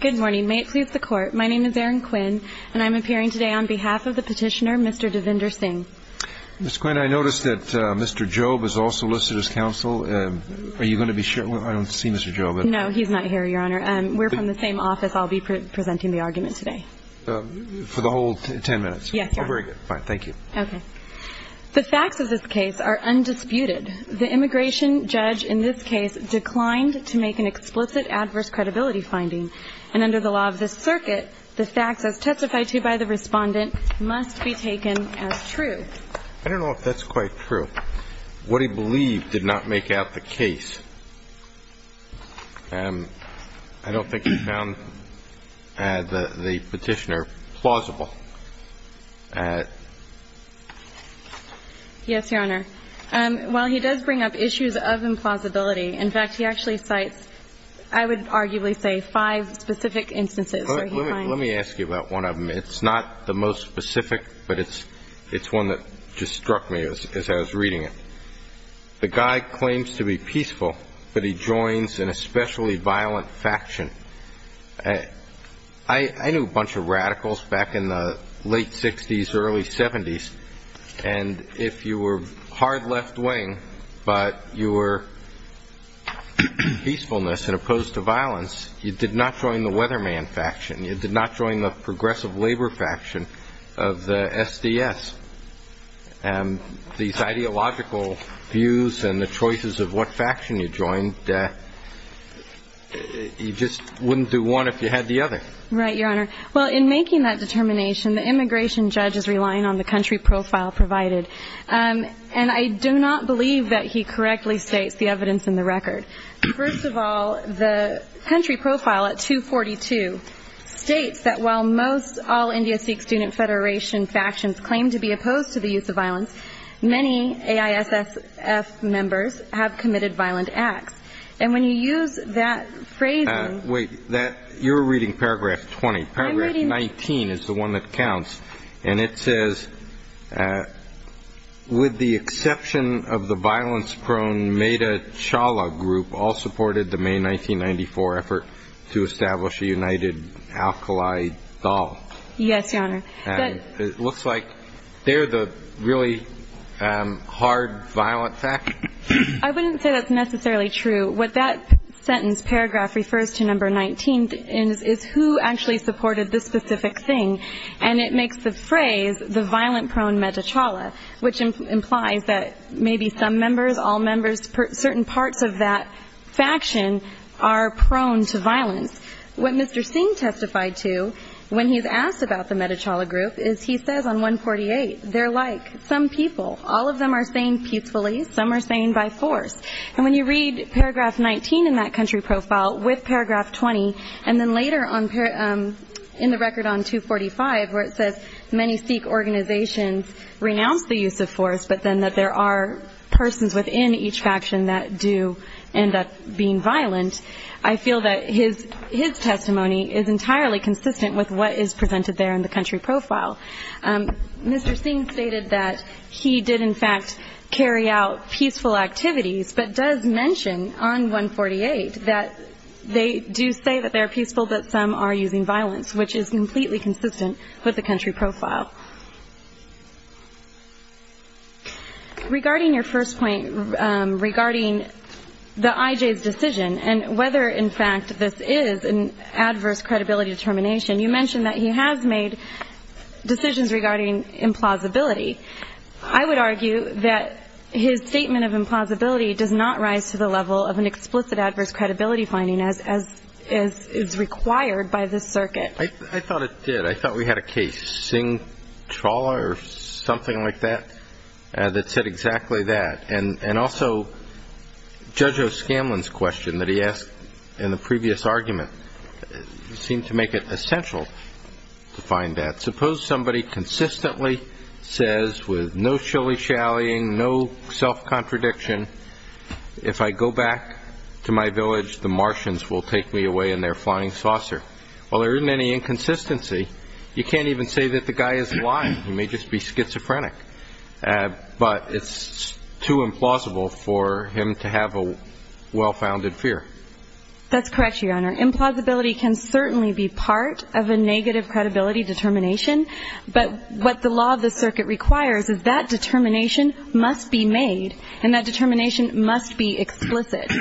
Good morning. May it please the court, my name is Erin Quinn, and I'm appearing today on behalf of the petitioner, Mr. Devinder Singh. Ms. Quinn, I noticed that Mr. Jobe is also listed as counsel. Are you going to be sharing? I don't see Mr. Jobe. No, he's not here, Your Honor. We're from the same office. I'll be presenting the argument today. For the whole ten minutes? Yes, Your Honor. Very good. Fine. Thank you. Okay. The facts of this case are undisputed. The immigration judge in this case declined to make an explicit adverse credibility finding, and under the law of this circuit, the facts as testified to by the respondent must be taken as true. I don't know if that's quite true. What he believed did not make out the case. I don't think he found the petitioner plausible. Yes, Your Honor. While he does bring up issues of implausibility, in fact, he actually cites, I would arguably say, five specific instances where he finds. Let me ask you about one of them. It's not the most specific, but it's one that just struck me as I was reading it. The guy claims to be peaceful, but he joins an especially violent faction. I knew a bunch of radicals back in the late 60s, early 70s. And if you were hard left wing, but you were peacefulness and opposed to violence, you did not join the weatherman faction. You did not join the progressive labor faction of the SDS. And these ideological views and the choices of what faction you joined, you just wouldn't do one if you had the other. Right, Your Honor. Well, in making that determination, the immigration judge is relying on the country profile provided. And I do not believe that he correctly states the evidence in the record. First of all, the country profile at 242 states that while most all India Sikh Student Federation factions claim to be opposed to the use of violence, many AISSF members have committed violent acts. And when you use that phrase. Wait, you're reading paragraph 20. Paragraph 19 is the one that counts. And it says, with the exception of the violence prone made a Chawla group all supported the May 1994 effort to establish a united alkali doll. Yes, Your Honor. It looks like they're the really hard violent fact. I wouldn't say that's necessarily true. What that sentence paragraph refers to, it makes the phrase the violent prone Metta Chawla, which implies that maybe some members, all members, certain parts of that faction are prone to violence. What Mr. Singh testified to when he's asked about the Metta Chawla group is he says on 148, they're like some people. All of them are saying peacefully. Some are saying by force. And when you read paragraph 19 in that country profile with paragraph 20, and then later on in the record on 245 where it says many Sikh organizations renounce the use of force, but then that there are persons within each faction that do end up being violent. I feel that his his testimony is entirely consistent with what is presented there in the country profile. Mr. Singh stated that he did, in fact, carry out peaceful activities, but does mention on 148 that they do say that they're peaceful, but some are using violence, which is completely consistent with the country profile. Regarding your first point regarding the IJ's decision and whether, in fact, this is an adverse credibility determination, you mentioned that he has made decisions regarding implausibility. I would argue that his statement of implausibility does not rise to the level of an explicit adverse credibility finding, as is required by this circuit. I thought it did. I thought we had a case, Singh Chawla or something like that, that said exactly that. And also Judge O'Scanlan's question that he asked in the previous argument seemed to make it essential to find that. Suppose somebody consistently says with no shilly-shallying, no self-contradiction, if I go back to my village, the Martians will take me away in their flying saucer. Well, there isn't any inconsistency. You can't even say that the guy is lying. He may just be schizophrenic, but it's too implausible for him to have a well-founded fear. That's correct, Your Honor. Implausibility can certainly be part of a negative credibility determination, but what the law of the circuit requires is that determination must be made and that determination must be explicit.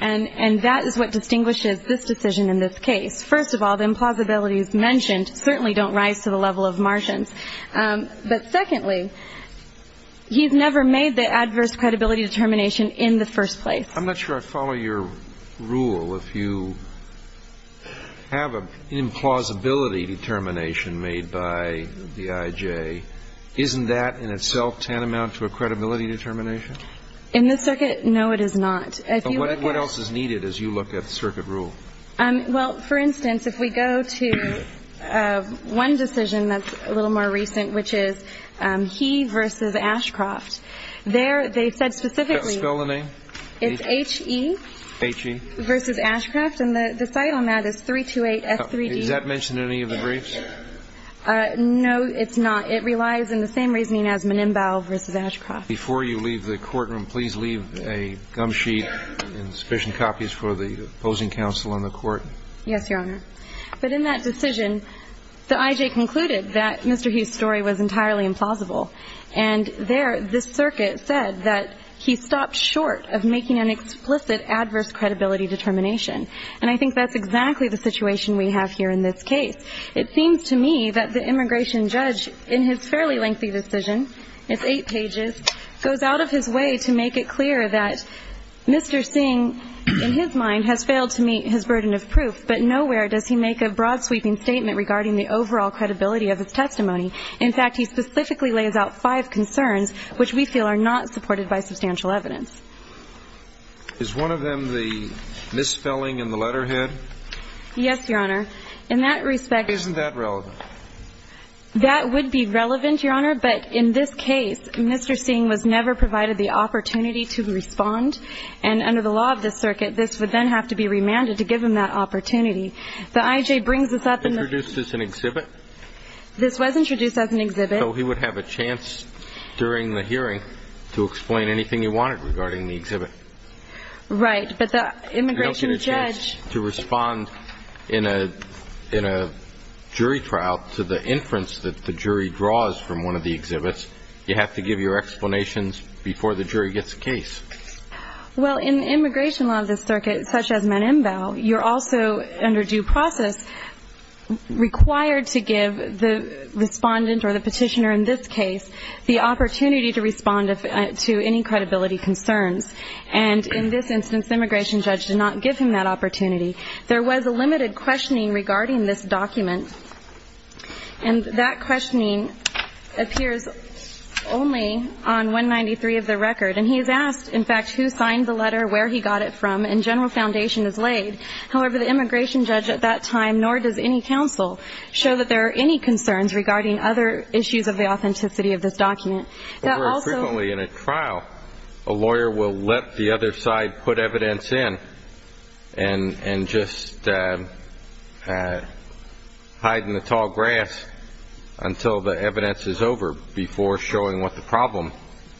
And that is what distinguishes this decision in this case. First of all, the implausibilities mentioned certainly don't rise to the level of Martians. But secondly, he's never made the adverse credibility determination in the first place. I'm not sure I follow your rule. If you have an implausibility determination made by the IJ, isn't that in itself tantamount to a credibility determination? In this circuit, no, it is not. But what else is needed as you look at the circuit rule? Well, for instance, if we go to one decision that's a little more recent, which is he versus Ashcroft, there they said specifically it's H.E. versus Ashcroft, and the site on that is 328S3D. Does that mention any of the briefs? No, it's not. It relies on the same reasoning as Menimbau versus Ashcroft. Before you leave the courtroom, please leave a gum sheet and sufficient copies for the opposing counsel in the court. Yes, Your Honor. But in that decision, the IJ concluded that Mr. Hugh's story was entirely implausible. And there this circuit said that he stopped short of making an explicit adverse credibility determination. And I think that's exactly the situation we have here in this case. It seems to me that the immigration judge, in his fairly lengthy decision, it's eight pages, goes out of his way to make it clear that Mr. Singh, in his mind, has failed to meet his burden of proof, but nowhere does he make a broad-sweeping statement regarding the overall credibility of his testimony. In fact, he specifically lays out five concerns which we feel are not supported by substantial evidence. Is one of them the misspelling in the letterhead? Yes, Your Honor. In that respect — Isn't that relevant? That would be relevant, Your Honor. But in this case, Mr. Singh was never provided the opportunity to respond. And under the law of this circuit, this would then have to be remanded to give him that opportunity. The IJ brings this up in the — Introduced this in exhibit? This was introduced as an exhibit. So he would have a chance during the hearing to explain anything he wanted regarding the exhibit. Right. But the immigration judge — He doesn't get a chance to respond in a jury trial to the inference that the jury draws from one of the exhibits. You have to give your explanations before the jury gets a case. Well, in immigration law of this circuit, such as Menembao, you're also, under due process, required to give the respondent or the petitioner in this case the opportunity to respond to any credibility concerns. And in this instance, the immigration judge did not give him that opportunity. There was a limited questioning regarding this document. And that questioning appears only on 193 of the record. And he is asked, in fact, who signed the letter, where he got it from, and general foundation is laid. However, the immigration judge at that time, nor does any counsel, show that there are any concerns regarding other issues of the authenticity of this document. Very frequently in a trial, a lawyer will let the other side put evidence in and just hide in the tall grass until the evidence is over before showing what the problem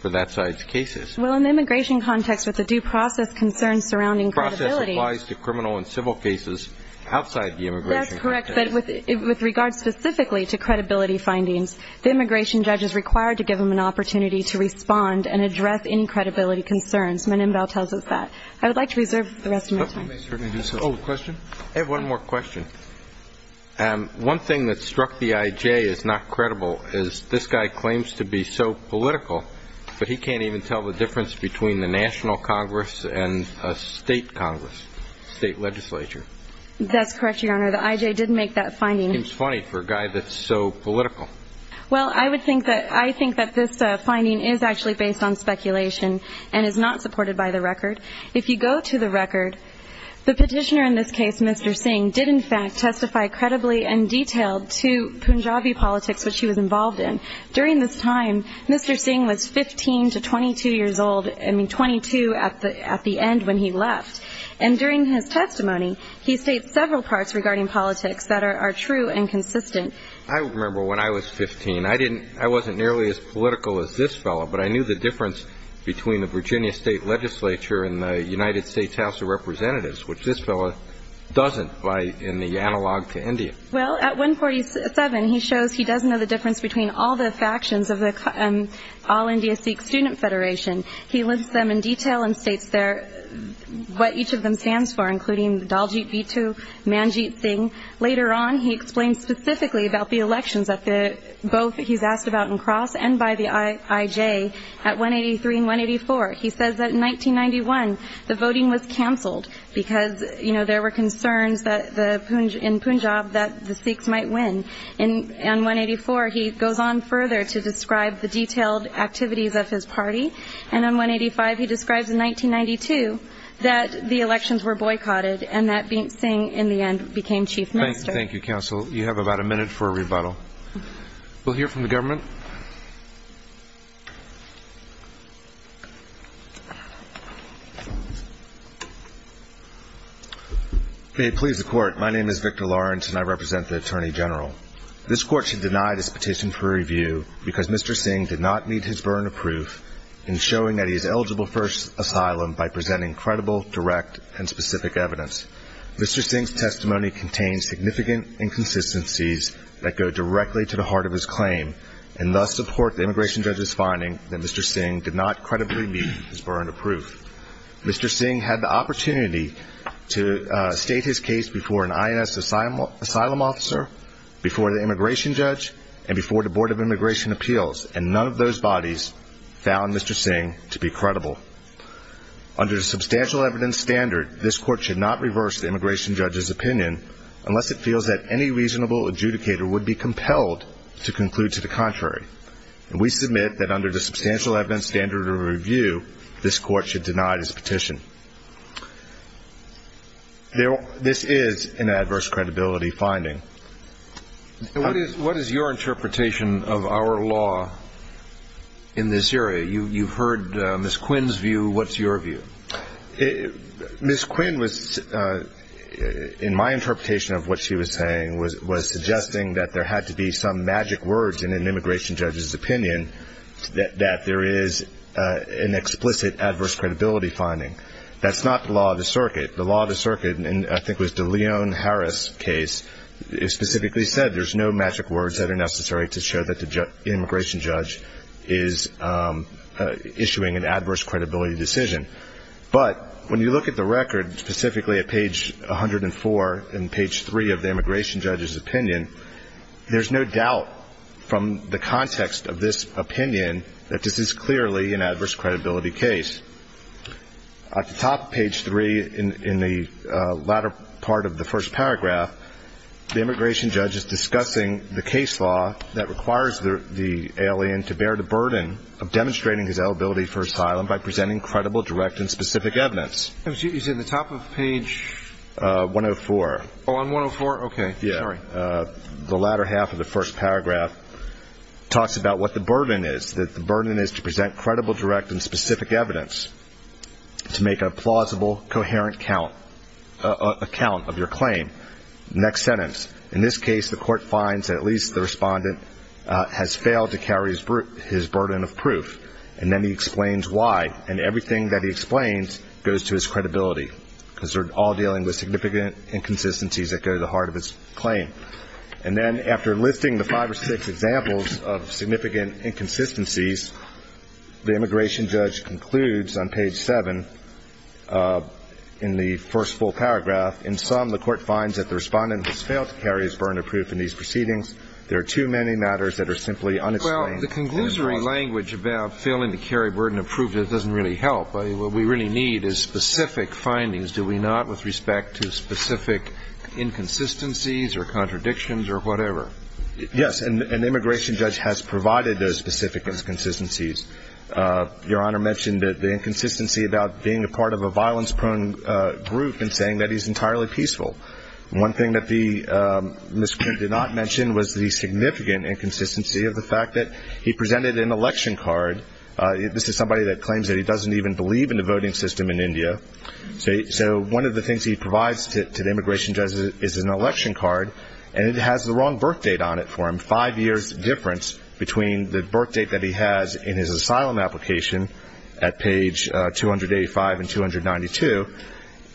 for that side's case is. Well, in the immigration context, with the due process concerns surrounding credibility — Due process applies to criminal and civil cases outside the immigration context. That's correct, but with regard specifically to credibility findings, the immigration judge is required to give him an opportunity to respond and address any credibility concerns. Menembao tells us that. I would like to reserve the rest of my time. Oh, question? I have one more question. One thing that struck the I.J. as not credible is this guy claims to be so political, but he can't even tell the difference between the national Congress and a state Congress, state legislature. That's correct, Your Honor. The I.J. did make that finding. It seems funny for a guy that's so political. If you go to the record, the petitioner in this case, Mr. Singh, did in fact testify credibly and detailed to Punjabi politics which he was involved in. During this time, Mr. Singh was 15 to 22 years old — I mean, 22 at the end when he left. And during his testimony, he states several parts regarding politics that are true and consistent. I remember when I was 15. I mean, I wasn't nearly as political as this fellow, but I knew the difference between the Virginia state legislature and the United States House of Representatives, which this fellow doesn't in the analog to India. Well, at 147, he shows he does know the difference between all the factions of the All-India Sikh Student Federation. He lists them in detail and states what each of them stands for, including Daljit Bitu, Manjit Singh. Later on, he explains specifically about the elections, both he's asked about in Cross and by the IJ, at 183 and 184. He says that in 1991, the voting was canceled because there were concerns in Punjab that the Sikhs might win. On 184, he goes on further to describe the detailed activities of his party. And on 185, he describes in 1992 that the elections were boycotted and that Singh, in the end, became chief minister. Thank you, counsel. You have about a minute for a rebuttal. We'll hear from the government. May it please the Court, my name is Victor Lawrence and I represent the Attorney General. This Court should deny this petition for review because Mr. Singh did not meet his burden of proof in showing that he is eligible for asylum by presenting credible, direct, and specific evidence. Mr. Singh's testimony contains significant inconsistencies that go directly to the heart of his claim and thus support the immigration judge's finding that Mr. Singh did not credibly meet his burden of proof. Mr. Singh had the opportunity to state his case before an INS asylum officer, before the immigration judge, and before the Board of Immigration Appeals, and none of those bodies found Mr. Singh to be credible. Under the substantial evidence standard, this Court should not reverse the immigration judge's opinion unless it feels that any reasonable adjudicator would be compelled to conclude to the contrary. We submit that under the substantial evidence standard of review, this Court should deny this petition. This is an adverse credibility finding. What is your interpretation of our law in this area? You've heard Ms. Quinn's view, what's your view? Ms. Quinn, in my interpretation of what she was saying, was suggesting that there had to be some magic words in an immigration judge's opinion that there is an explicit adverse credibility finding. That's not the law of the circuit. The law of the circuit, and I think it was the Leon Harris case, specifically said there's no magic words that are necessary to show that the immigration judge is issuing an adverse credibility decision. But when you look at the record, specifically at page 104 and page 3 of the immigration judge's opinion, there's no doubt from the context of this opinion that this is clearly an adverse credibility case. At the top of page 3 in the latter part of the first paragraph, the immigration judge is discussing the case law that requires the alien to bear the burden of demonstrating his eligibility for asylum by presenting credible, direct, and specific evidence. You said the top of page? 104. Oh, on 104? Okay, sorry. The latter half of the first paragraph talks about what the burden is, that the burden is to present credible, direct, and specific evidence to make a plausible, coherent account of your claim. Next sentence. In this case, the court finds that at least the respondent has failed to carry his burden of proof, and then he explains why, and everything that he explains goes to his credibility because they're all dealing with significant inconsistencies that go to the heart of his claim. And then after listing the five or six examples of significant inconsistencies, the immigration judge concludes on page 7 in the first full paragraph, in sum, the court finds that the respondent has failed to carry his burden of proof in these proceedings. There are too many matters that are simply unexplained. Well, the conclusory language about failing to carry burden of proof doesn't really help. What we really need is specific findings, do we not, with respect to specific inconsistencies or contradictions or whatever. Yes, and the immigration judge has provided those specific inconsistencies. Your Honor mentioned the inconsistency about being a part of a violence-prone group and saying that he's entirely peaceful. One thing that Ms. Quinn did not mention was the significant inconsistency of the fact that he presented an election card. This is somebody that claims that he doesn't even believe in the voting system in India. So one of the things he provides to the immigration judge is an election card, and it has the wrong birth date on it for him, five years' difference between the birth date that he has in his asylum application at page 285 and 292.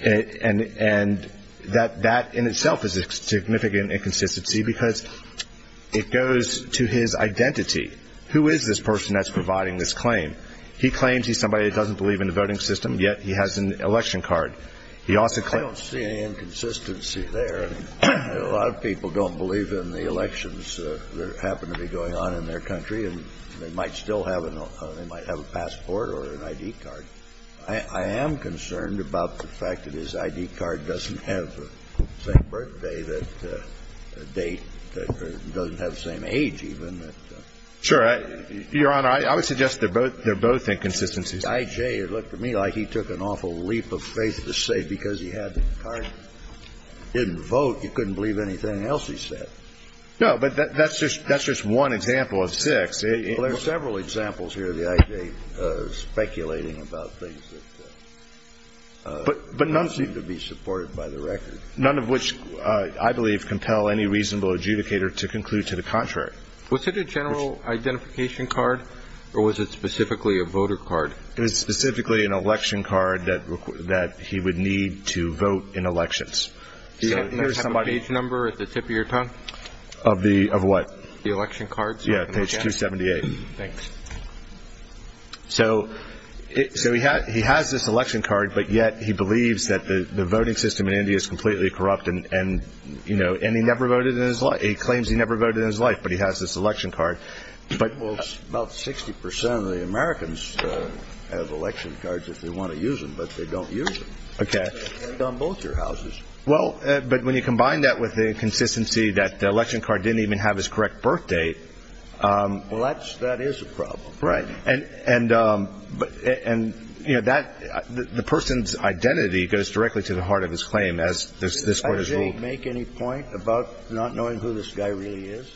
And that in itself is a significant inconsistency because it goes to his identity. Who is this person that's providing this claim? He claims he's somebody that doesn't believe in the voting system, yet he has an election card. He also claims he doesn't believe in the voting system. I don't see any inconsistency there. A lot of people don't believe in the elections that happen to be going on in their country, and they might still have a passport or an I.D. card. I am concerned about the fact that his I.D. card doesn't have the same birthday, date, doesn't have the same age even. Sure. Your Honor, I would suggest they're both inconsistencies. The I.J. looked to me like he took an awful leap of faith to say because he had the card, didn't vote, he couldn't believe anything else he said. No, but that's just one example of six. Well, there are several examples here of the I.J. speculating about things that don't seem to be supported by the record. None of which I believe compel any reasonable adjudicator to conclude to the contrary. Was it a general identification card, or was it specifically a voter card? It was specifically an election card that he would need to vote in elections. Does it have a page number at the tip of your tongue? Of what? The election card. Yeah, page 278. Thanks. So he has this election card, but yet he believes that the voting system in India is completely corrupt, and, you know, and he never voted in his life. He claims he never voted in his life, but he has this election card. Well, about 60% of the Americans have election cards if they want to use them, but they don't use them. Okay. On both your houses. Well, but when you combine that with the inconsistency that the election card didn't even have his correct birth date. Well, that is a problem. Right. And, you know, the person's identity goes directly to the heart of his claim, as this Court has ruled. Does he make any point about not knowing who this guy really is?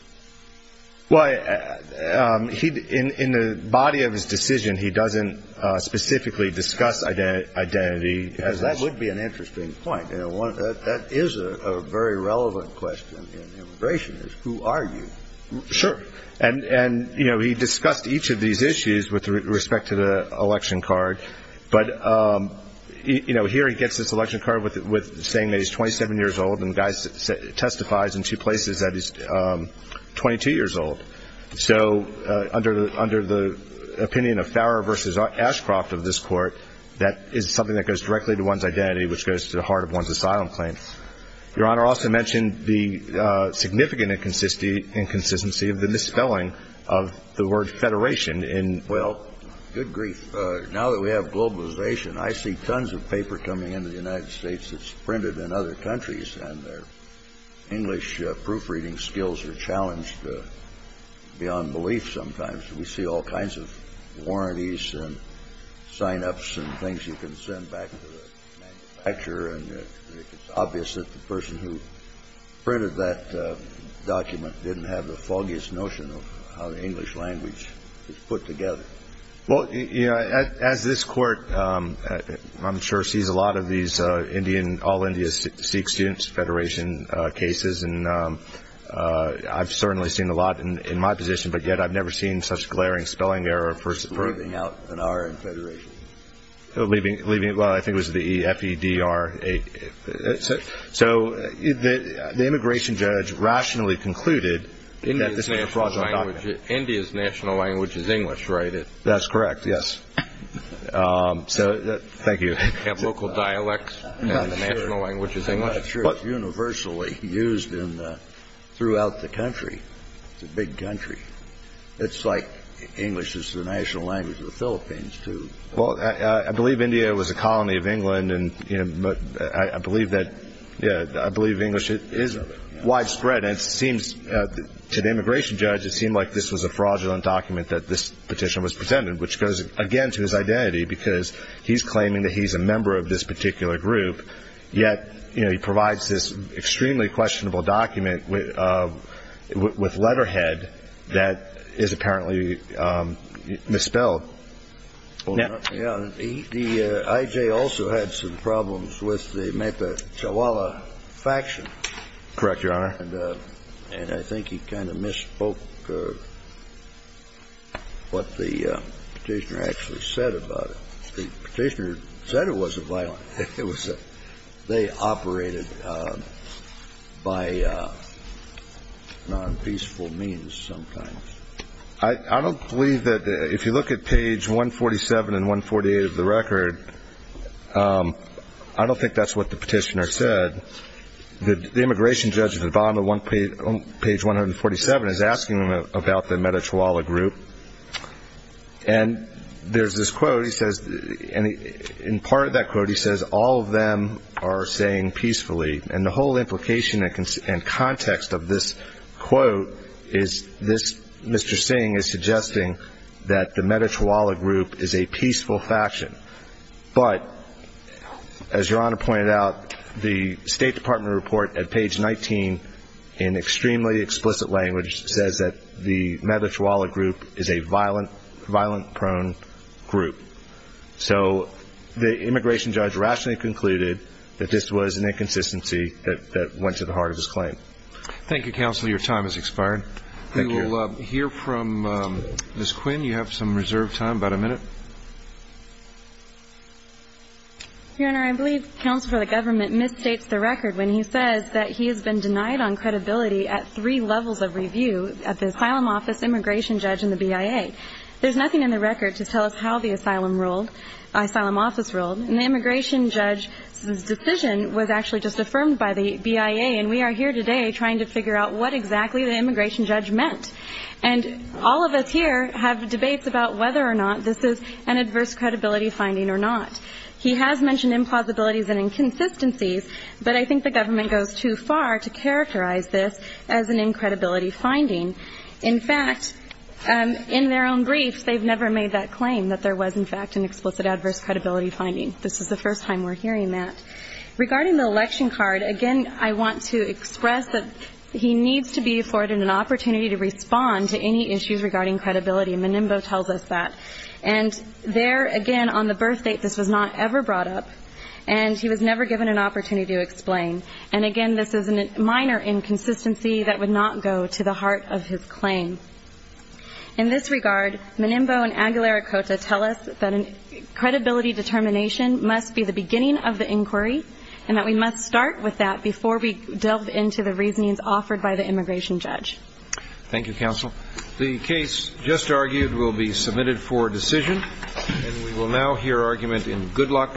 Well, in the body of his decision, he doesn't specifically discuss identity. Because that would be an interesting point. That is a very relevant question in immigration, is who are you? Sure. And, you know, he discussed each of these issues with respect to the election card. But, you know, here he gets this election card saying that he's 27 years old, and the guy testifies in two places that he's 22 years old. So under the opinion of Farrer versus Ashcroft of this Court, that is something that goes directly to one's identity, which goes to the heart of one's asylum claim. Your Honor, also mentioned the significant inconsistency of the misspelling of the word federation. Well, good grief. Now that we have globalization, I see tons of paper coming into the United States that's printed in other countries, and their English proofreading skills are challenged beyond belief sometimes. We see all kinds of warranties and sign-ups and things you can send back to the manufacturer, and it's obvious that the person who printed that document didn't have the foggiest notion of how the English language is put together. Well, you know, as this Court, I'm sure, sees a lot of these Indian, all India Sikh students, federation cases, and I've certainly seen a lot in my position, but yet I've never seen such glaring spelling error. Leaving out an R in federation. Well, I think it was the F-E-D-R. So the immigration judge rationally concluded that this was a fraudulent document. India's national language is English, right? That's correct, yes. Thank you. You have local dialects and the national language is English? I'm not sure it's universally used throughout the country. It's a big country. It's like English is the national language of the Philippines, too. Well, I believe India was a colony of England, and I believe English is widespread, and it seems to the immigration judge it seemed like this was a fraudulent document that this petition was presented, which goes, again, to his identity because he's claiming that he's a member of this particular group, yet he provides this extremely questionable document with letterhead that is apparently misspelled. The IJ also had some problems with the Mata Chawala faction. Correct, Your Honor. And I think he kind of misspoke what the petitioner actually said about it. The petitioner said it wasn't violent. They operated by non-peaceful means sometimes. I don't believe that if you look at page 147 and 148 of the record, I don't think that's what the petitioner said. The immigration judge at the bottom of page 147 is asking about the Mata Chawala group, and there's this quote, and in part of that quote he says, all of them are saying peacefully, and the whole implication and context of this quote is this Mr. Singh is suggesting that the Mata Chawala group is a peaceful faction. But as Your Honor pointed out, the State Department report at page 19 in extremely explicit language says that the Mata Chawala group is a violent prone group. So the immigration judge rationally concluded that this was an inconsistency that went to the heart of his claim. Thank you, Counselor. Your time has expired. Thank you. We will hear from Ms. Quinn. You have some reserved time, about a minute. Your Honor, I believe Counsel for the Government misstates the record when he says that he has been denied on credibility at three levels of review, at the asylum office, immigration judge, and the BIA. There's nothing in the record to tell us how the asylum office ruled, and the immigration judge's decision was actually just affirmed by the BIA, and we are here today trying to figure out what exactly the immigration judge meant. And all of us here have debates about whether or not this is an adverse credibility finding or not. He has mentioned implausibilities and inconsistencies, but I think the government goes too far to characterize this as an incredibility finding. In fact, in their own briefs, they've never made that claim that there was, in fact, an explicit adverse credibility finding. This is the first time we're hearing that. Regarding the election card, again, I want to express that he needs to be afforded an opportunity to respond to any issues regarding credibility, and Menimbo tells us that. And there, again, on the birth date, this was not ever brought up, and he was never given an opportunity to explain. And, again, this is a minor inconsistency that would not go to the heart of his claim. In this regard, Menimbo and Aguilera-Cota tell us that credibility determination must be the beginning of the inquiry and that we must start with that before we delve into the reasonings offered by the immigration judge. Thank you, counsel. The case just argued will be submitted for decision, and we will now hear argument in Goodluck v. Levitt.